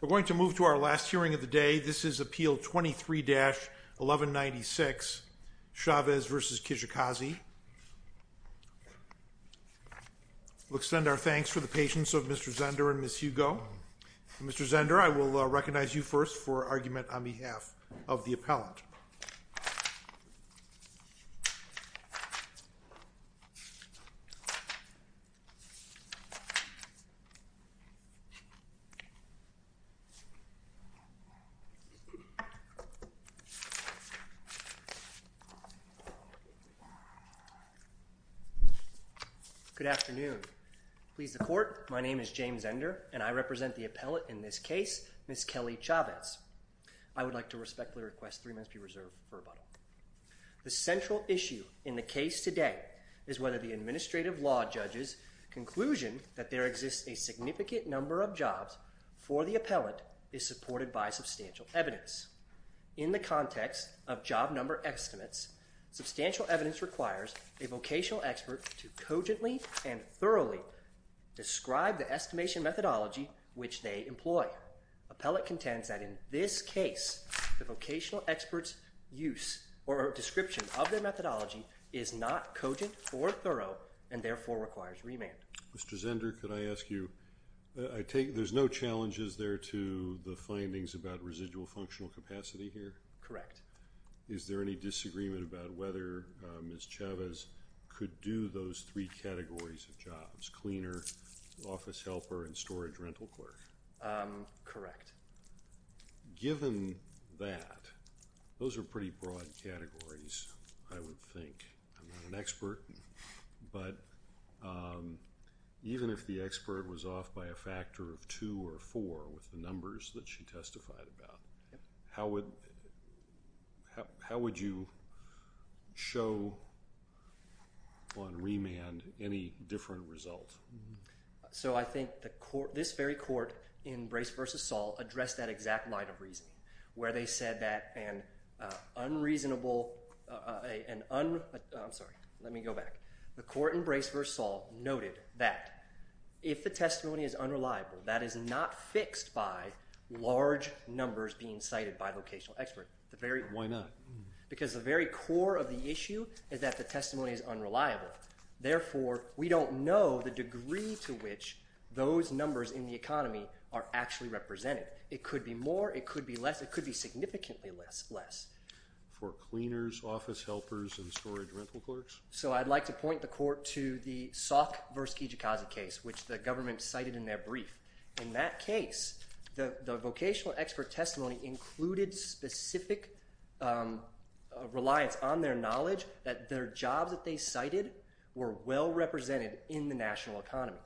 We're going to move to our last hearing of the day. This is Appeal 23-1196 Chavez v. Kijakazi. We'll extend our thanks for the patience of Mr. Zender and Ms. Hugo. Mr. Zender, I will recognize you first for argument on behalf of the appellant. Good afternoon. Please the court, my name is James Zender and I represent the appellate in this case, Ms. Kelly Chavez. I would like to respectfully request three minutes be reserved for rebuttal. The central issue in the case today is whether the administrative law judge's conclusion that there exists a significant number of jobs for the appellant is supported by substantial evidence. In the context of job number estimates, substantial evidence requires a vocational expert to cogently and thoroughly describe the estimation methodology which they employ. Appellant contends that in this case, the vocational expert's use or description of the methodology is not cogent or thorough and therefore requires remand. Mr. Zender, could I ask you, there's no challenges there to the findings about residual functional capacity here? Correct. Is there any disagreement about whether Ms. Chavez could do those three Correct. Given that, those are pretty broad categories, I would think. I'm not an expert, but even if the expert was off by a factor of two or four with the numbers that she testified about, how would you show on remand any different result? So I think the court, this very court in Brace v. Saul, addressed that exact line of reasoning where they said that an unreasonable, an un, I'm sorry, let me go back. The court in Brace v. Saul noted that if the testimony is unreliable, that is not fixed by large numbers being cited by vocational expert. Why not? Because the very core of the issue is that the testimony is unreliable. Therefore, we don't know the degree to which those numbers in the economy are actually represented. It could be more, it could be less, it could be significantly less. For cleaners, office helpers, and storage rental clerks? So I'd like to point the court to the Sauk v. Kijikazi case, which the government cited in their brief. In that case, the vocational expert testimony included specific reliance on their knowledge that their jobs that they cited were well represented in the national economy.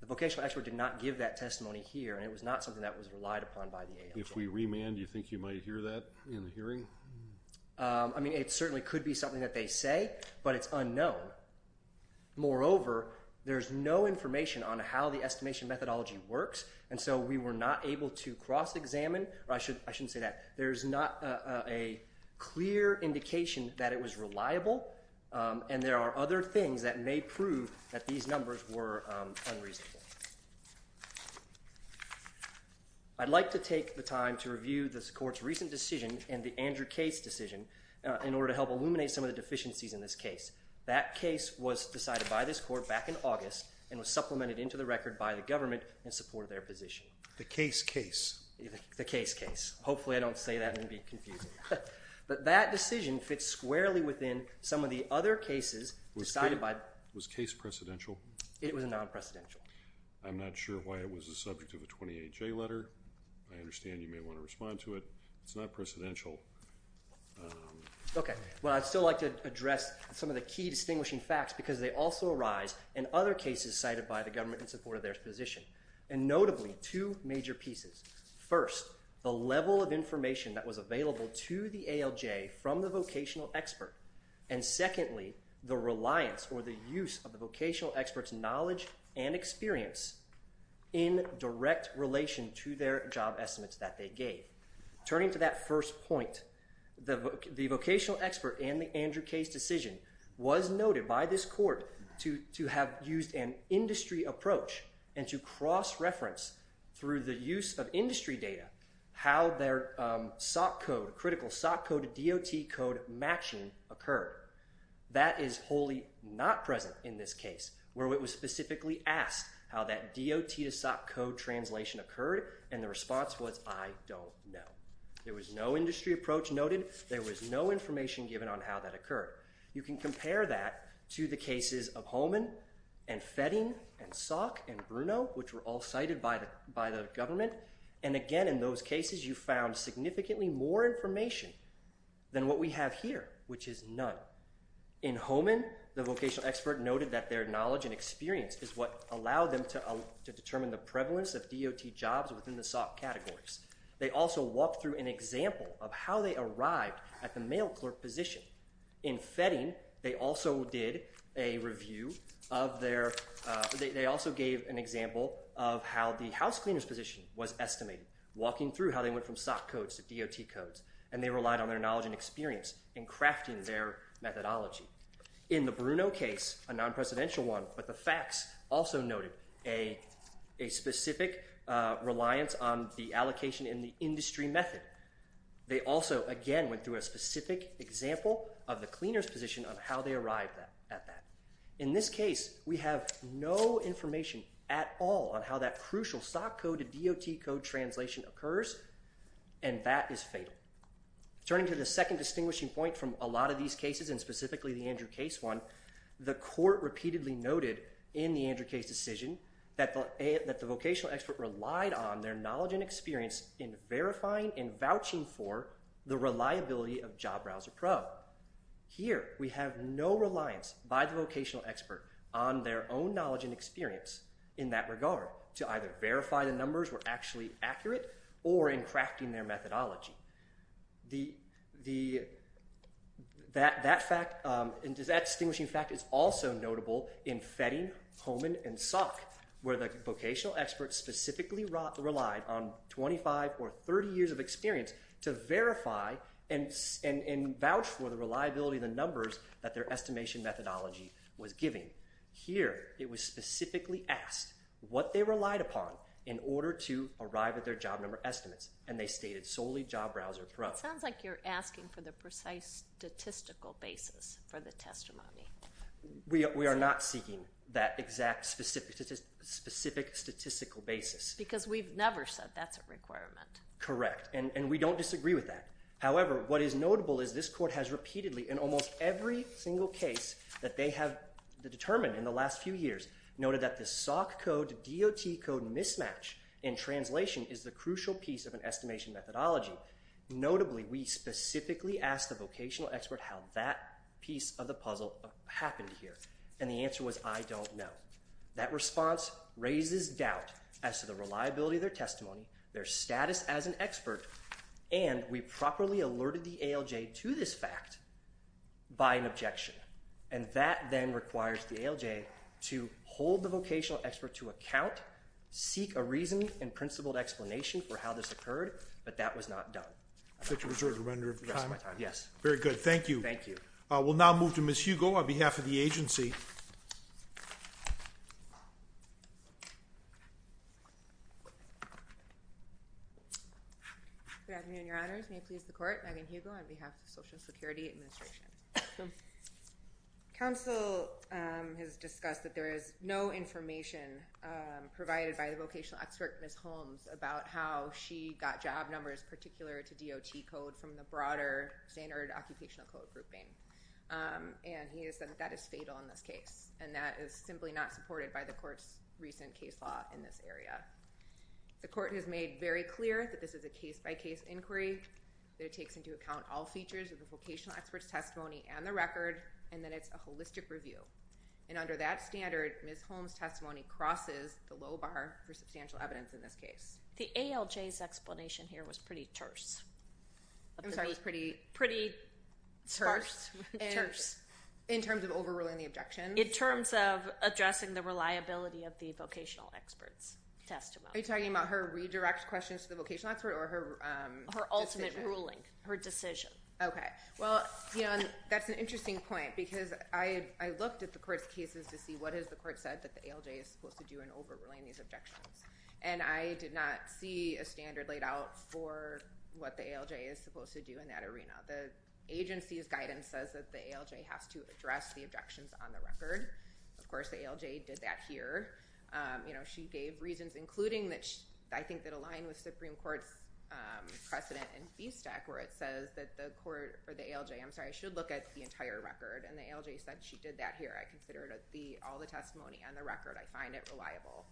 The vocational expert did not give that testimony here, and it was not something that was relied upon by the ALA. If we remand, do you think you might hear that in the hearing? I mean, it certainly could be something that they say, but it's unknown. Moreover, there's no information on how the estimation methodology works, and so we were not able to cross-examine. I shouldn't say that. There's not a clear indication that it was reliable, and there are other things that may prove that these numbers were unreasonable. I'd like to take the time to review this court's recent decision and the Andrew Case decision in order to help illuminate some of the deficiencies in this case. That case was decided by this court back in August and was supplemented into the government in support of their position. The Case case. The Case case. Hopefully I don't say that and it would be confusing. But that decision fits squarely within some of the other cases decided by... Was Case precedential? It was non-precedential. I'm not sure why it was the subject of a 28-J letter. I understand you may want to respond to it. It's not precedential. Okay. Well, I'd still like to address some of the key distinguishing facts because they also arise in other cases cited by the government in support of their position. And notably, two major pieces. First, the level of information that was available to the ALJ from the vocational expert. And secondly, the reliance or the use of the vocational expert's knowledge and experience in direct relation to their job estimates that they gave. Turning to that first point, the vocational expert and the to cross-reference through the use of industry data how their SOC code, critical SOC code, DOT code matching occurred. That is wholly not present in this case where it was specifically asked how that DOT to SOC code translation occurred and the response was, I don't know. There was no industry approach noted. There was no information given on how that occurred. You can compare that to the cases of Hohmann and Fetting and SOC and Bruno, which were all cited by the government. And again, in those cases, you found significantly more information than what we have here, which is none. In Hohmann, the vocational expert noted that their knowledge and experience is what allowed them to determine the prevalence of DOT jobs within the SOC categories. They also walked through an example of how they arrived at the mail clerk position. In Fetting, they also gave an example of how the house cleaner's position was estimated, walking through how they went from SOC codes to DOT codes, and they relied on their knowledge and experience in crafting their methodology. In the Bruno case, a non-presidential one, but the facts also noted a specific reliance on the allocation in the industry method. They also, again, went through a specific example of the cleaner's position on how they arrived at that. In this case, we have no information at all on how that crucial SOC code to DOT code translation occurs, and that is fatal. Turning to the second distinguishing point from a lot of these cases, and specifically the Andrew Case one, the court repeatedly noted in the Andrew Case decision that the vocational expert relied on their knowledge and experience in verifying and vouching for the reliability of Job Browser Pro. Here, we have no reliance by the vocational expert on their own knowledge and experience in that regard, to either verify the numbers were actually accurate or in crafting their methodology. That fact, and that distinguishing fact is also notable in Fetting, Homan, and SOC, where the vocational expert specifically relied on 25 or 30 years of experience to verify and vouch for the reliability of the numbers that their estimation methodology was giving. Here, it was specifically asked what they relied upon in order to arrive at their job number estimates, and they stated solely Job Browser Pro. It sounds like you're asking for the precise statistical basis for the testimony. We are not seeking that exact specific statistical basis. Because we've never said that's a requirement. Correct, and we don't disagree with that. However, what is notable is this court has repeatedly, in almost every single case that they have determined in the last few years, noted that the SOC code DOT code mismatch in translation is the crucial piece of an estimation methodology. Notably, we specifically asked the vocational expert how that piece of the puzzle happened here, and the answer was I don't know. That response raises doubt as to the reliability of their testimony, their status as an expert, and we properly alerted the ALJ to this fact by an objection. And that then requires the ALJ to hold the vocational expert to account, seek a reason, and principled explanation for how this occurred, but that was not done. Thank you. We'll now move to Ms. Hugo on behalf of the agency. Good afternoon, your honors. May it please the court. Megan Hugo on behalf of Social Security Administration. Counsel has discussed that there is no information provided by the vocational expert, Ms. Holmes, about how she got job numbers particular to DOT code from the broader standard occupational code grouping, and he has said that is fatal in this case, and that is simply not supported by the court's recent case law in this area. The court has made very clear that this is a case-by-case inquiry, that it takes into account all features of the vocational expert's testimony and the record, and that it's a holistic review. And under that standard, Ms. Holmes' testimony crosses the low bar for substantial evidence in this case. The ALJ's explanation here was pretty terse. I'm sorry, it was pretty? Pretty sparse. In terms of overruling the objection? In terms of addressing the reliability of the vocational expert's testimony. Are you talking about her redirect questions to the vocational expert or her decision? Her ultimate ruling, her decision. Okay, well, that's an interesting point because I looked at the court's cases to see what has the court said that the ALJ is supposed to do in overruling these objections, and I did not see a standard laid out for what the ALJ is supposed to do in that arena. The agency's guidance says that the ALJ has to address the objections on the record. Of course, the ALJ did that here. You know, she gave reasons, including that I think that aligned with Supreme Court's precedent in FVSTAC, where it says that the court, or the ALJ, I'm sorry, should look at the entire record, and the ALJ said she did that here. I consider all the testimony on the record, I find it reliable.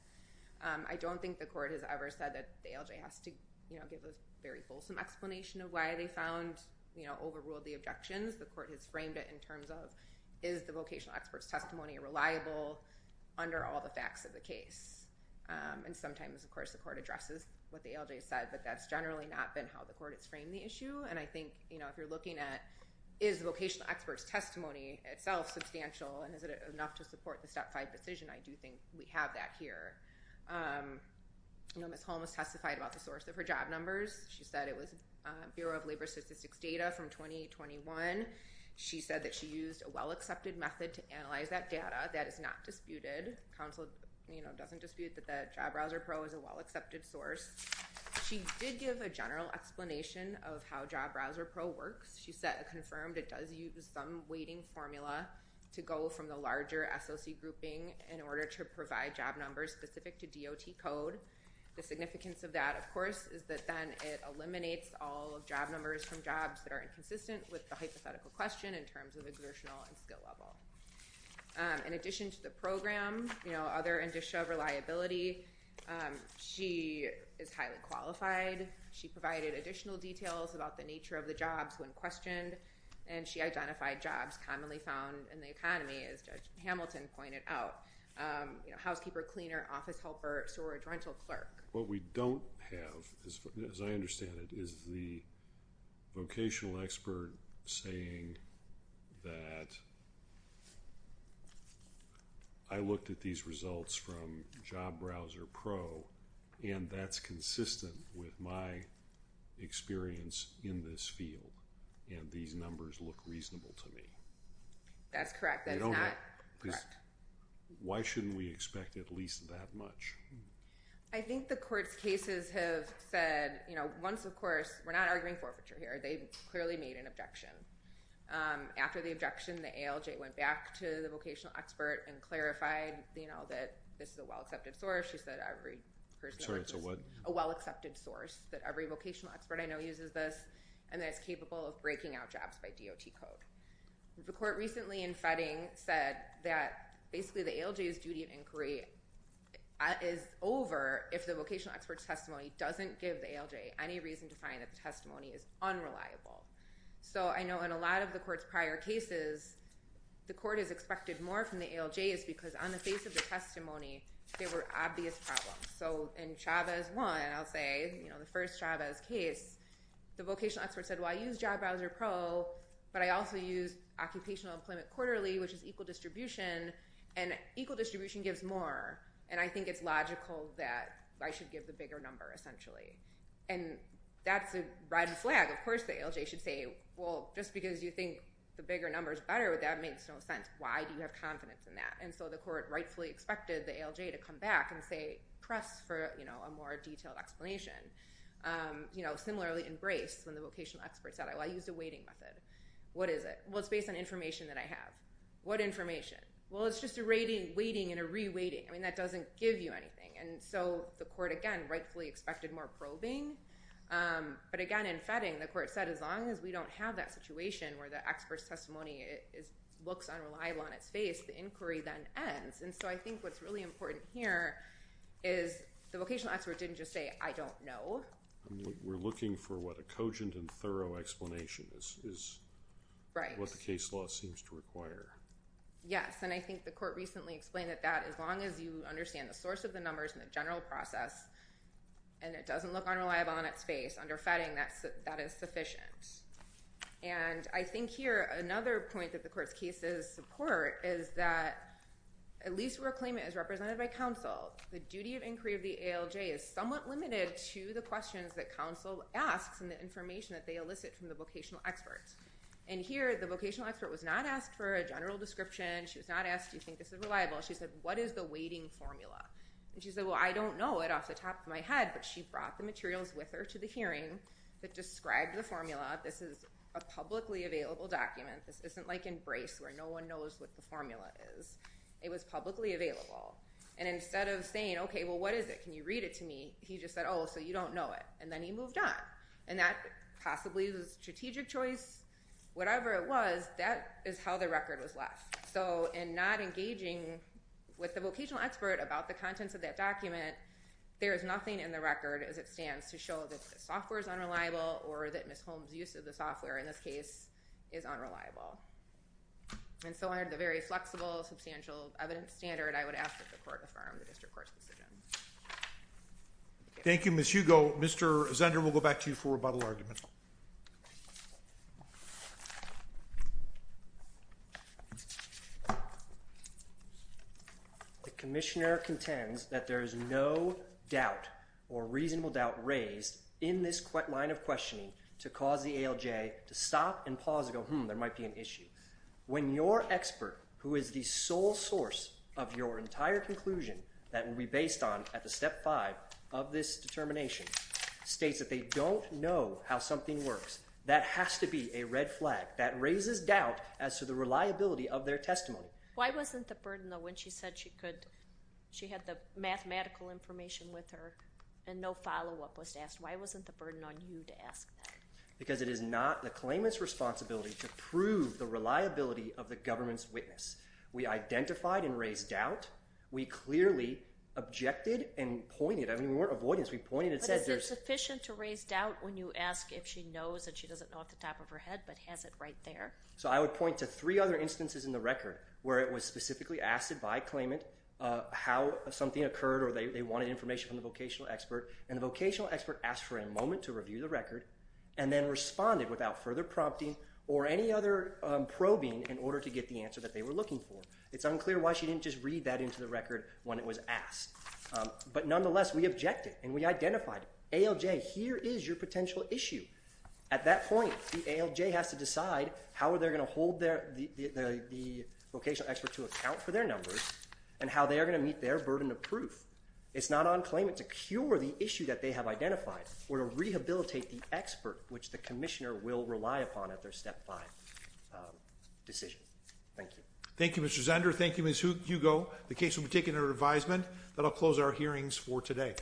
I don't think the court has ever said that the ALJ has to, you know, give a very fulsome explanation of why they found, you know, overruled the objections. The court has framed it in terms of, is the vocational expert's testimony reliable under all the facts of the case? And sometimes, of course, the court addresses what the ALJ said, but that's generally not been how the court has framed the issue, and I think, you know, if you're looking at is vocational expert's testimony itself substantial, and is it enough to support the Step 5 decision, I do think we have that here. You know, Ms. Holmes testified about the source of her job numbers. She said it was Bureau of Labor Statistics data from 2021. She said that she used a well-accepted method to analyze that data. That is not disputed. Council, you know, doesn't dispute that the Job Browser Pro is a well-accepted source. She did give a general explanation of how Job Browser Pro works. She confirmed it does use some weighting formula to go from the larger SOC grouping in order to provide job numbers specific to DOT code. The significance of that, of course, is that then it eliminates all job numbers from jobs that are inconsistent with the hypothetical question in terms of exertional and skill level. In addition to the program, you know, other indicia of reliability, she is highly qualified. She provided additional details about the nature of the jobs when questioned, and she identified jobs commonly found in the economy, as Judge Hamilton pointed out. You know, housekeeper, cleaner, office helper, storage rental clerk. What we don't have, as I understand it, is the vocational expert saying that I looked at these results from Job Browser Pro, and that's consistent with my experience in this field, and these numbers look reasonable to me. That's correct. Why shouldn't we expect at least that much? I think the court's cases have said, you know, once, of course, we're not arguing forfeiture here. They clearly made an objection. After the objection, the ALJ went back to the vocational expert and clarified, you know, that this is a well-accepted source. She said every person is a well-accepted source, that every vocational expert I know uses this, and that it's capable of breaking out jobs by DOT code. The court recently in Fedding said that basically the ALJ's duty of inquiry is over if the vocational expert's testimony doesn't give the ALJ any reason to find that the testimony is unreliable. So I know in a lot of the court's prior cases, the court has expected more from the ALJs because on the face of the testimony, there were obvious problems. So in Chavez 1, I'll say, you know, the first Chavez case, the vocational expert said, well, I use Job Browser Pro, but I also use occupational employment quarterly, which is equal distribution, and equal distribution gives more, and I think it's logical that I should give the bigger number essentially. And that's a red flag. Of course the ALJ should say, well, just because you think the bigger number is better, that makes no sense. Why do you have confidence in that? And so the court rightfully expected the ALJ to come back and say, press for, you know, a more detailed explanation. You know, similarly in Brace, when the vocational expert said, well, I used a weighting method. What is it? Well, it's based on information that I have. What information? Well, it's just a weighting and a re-weighting. I mean, that doesn't give you anything. And so the court, again, rightfully expected more probing. But again, in Fetting, the court said, as long as we don't have that situation where the expert's testimony looks unreliable on its face, the inquiry then ends. And so I think what's really important here is the vocational expert didn't just say, I don't know. We're looking for what a cogent and thorough explanation is. Right. What the case law seems to require. Yes. And I think the court recently explained that that as long as you understand the source of the numbers and the general process, and it doesn't look unreliable on its face under Fetting, that is sufficient. And I think here, another point that the court's cases support is that at least where a claimant is represented by counsel, the duty of inquiry of the ALJ is somewhat limited to the questions that counsel asks and the information that they elicit from the vocational experts. And here, the vocational expert was not asked for a general description. She was not asked, do you think this is reliable? She said, what is the weighting formula? And she said, well, I don't know it off the top of my head. But she brought the materials with her to the hearing that described the formula. This is a publicly available document. This isn't like in Brace where no one knows what the formula is. It was publicly available. And instead of saying, OK, well, what is it? Can you read it to me? He just said, oh, so you don't know it. And then he moved on. And that possibly was strategic choice. Whatever it was, that is how the record was left. So in not engaging with the vocational expert about the contents of that document, there is nothing in the record as it stands to show that the software is unreliable or that Ms. Holmes' use of the software in this case is unreliable. And so under the very flexible, substantial evidence standard, I would ask that the court affirm the district court's decision. Thank you, Ms. Hugo. Mr. Zender, we'll go back to you for rebuttal argument. The commissioner contends that there is no doubt or reasonable doubt raised in this line of questioning to cause the ALJ to stop and pause and go, hmm, there might be an issue. When your expert, who is the sole source of your entire conclusion that will be based on at the step five of this determination, states that they don't know how something works, that has to be a red flag. That raises doubt as to the reliability of their testimony. Why wasn't the burden, though, when she said she could, she had the mathematical information with her and no follow-up was asked, why wasn't the burden on you to ask that? Because it is not the claimant's responsibility to prove the reliability of the government's witness. We identified and raised doubt. We clearly objected and pointed, I mean, we weren't avoiding this, we pointed and said there's... But is it sufficient to raise doubt when you ask if she knows and she doesn't know at the top of her head but has it right there? So I would point to three other instances in the record where it was specifically asked by a claimant how something occurred or they wanted information from the vocational expert. And the vocational expert asked for a moment to review the record and then responded without further prompting or any other probing in order to get the answer that they were looking for. It's unclear why she didn't just read that into the record when it was asked. But nonetheless, we objected and we identified ALJ, here is your potential issue. At that point, the ALJ has to decide how are they going to hold the vocational expert to account for their numbers and how they are going to meet their burden of proof. It's not on claimant to cure the issue that they have identified or to rehabilitate the expert which the commissioner will rely upon at their step five decision. Thank you. Thank you, Mr. Zender. Thank you, Ms. Hugo. The case will be taken under advisement. That'll close our hearings for today.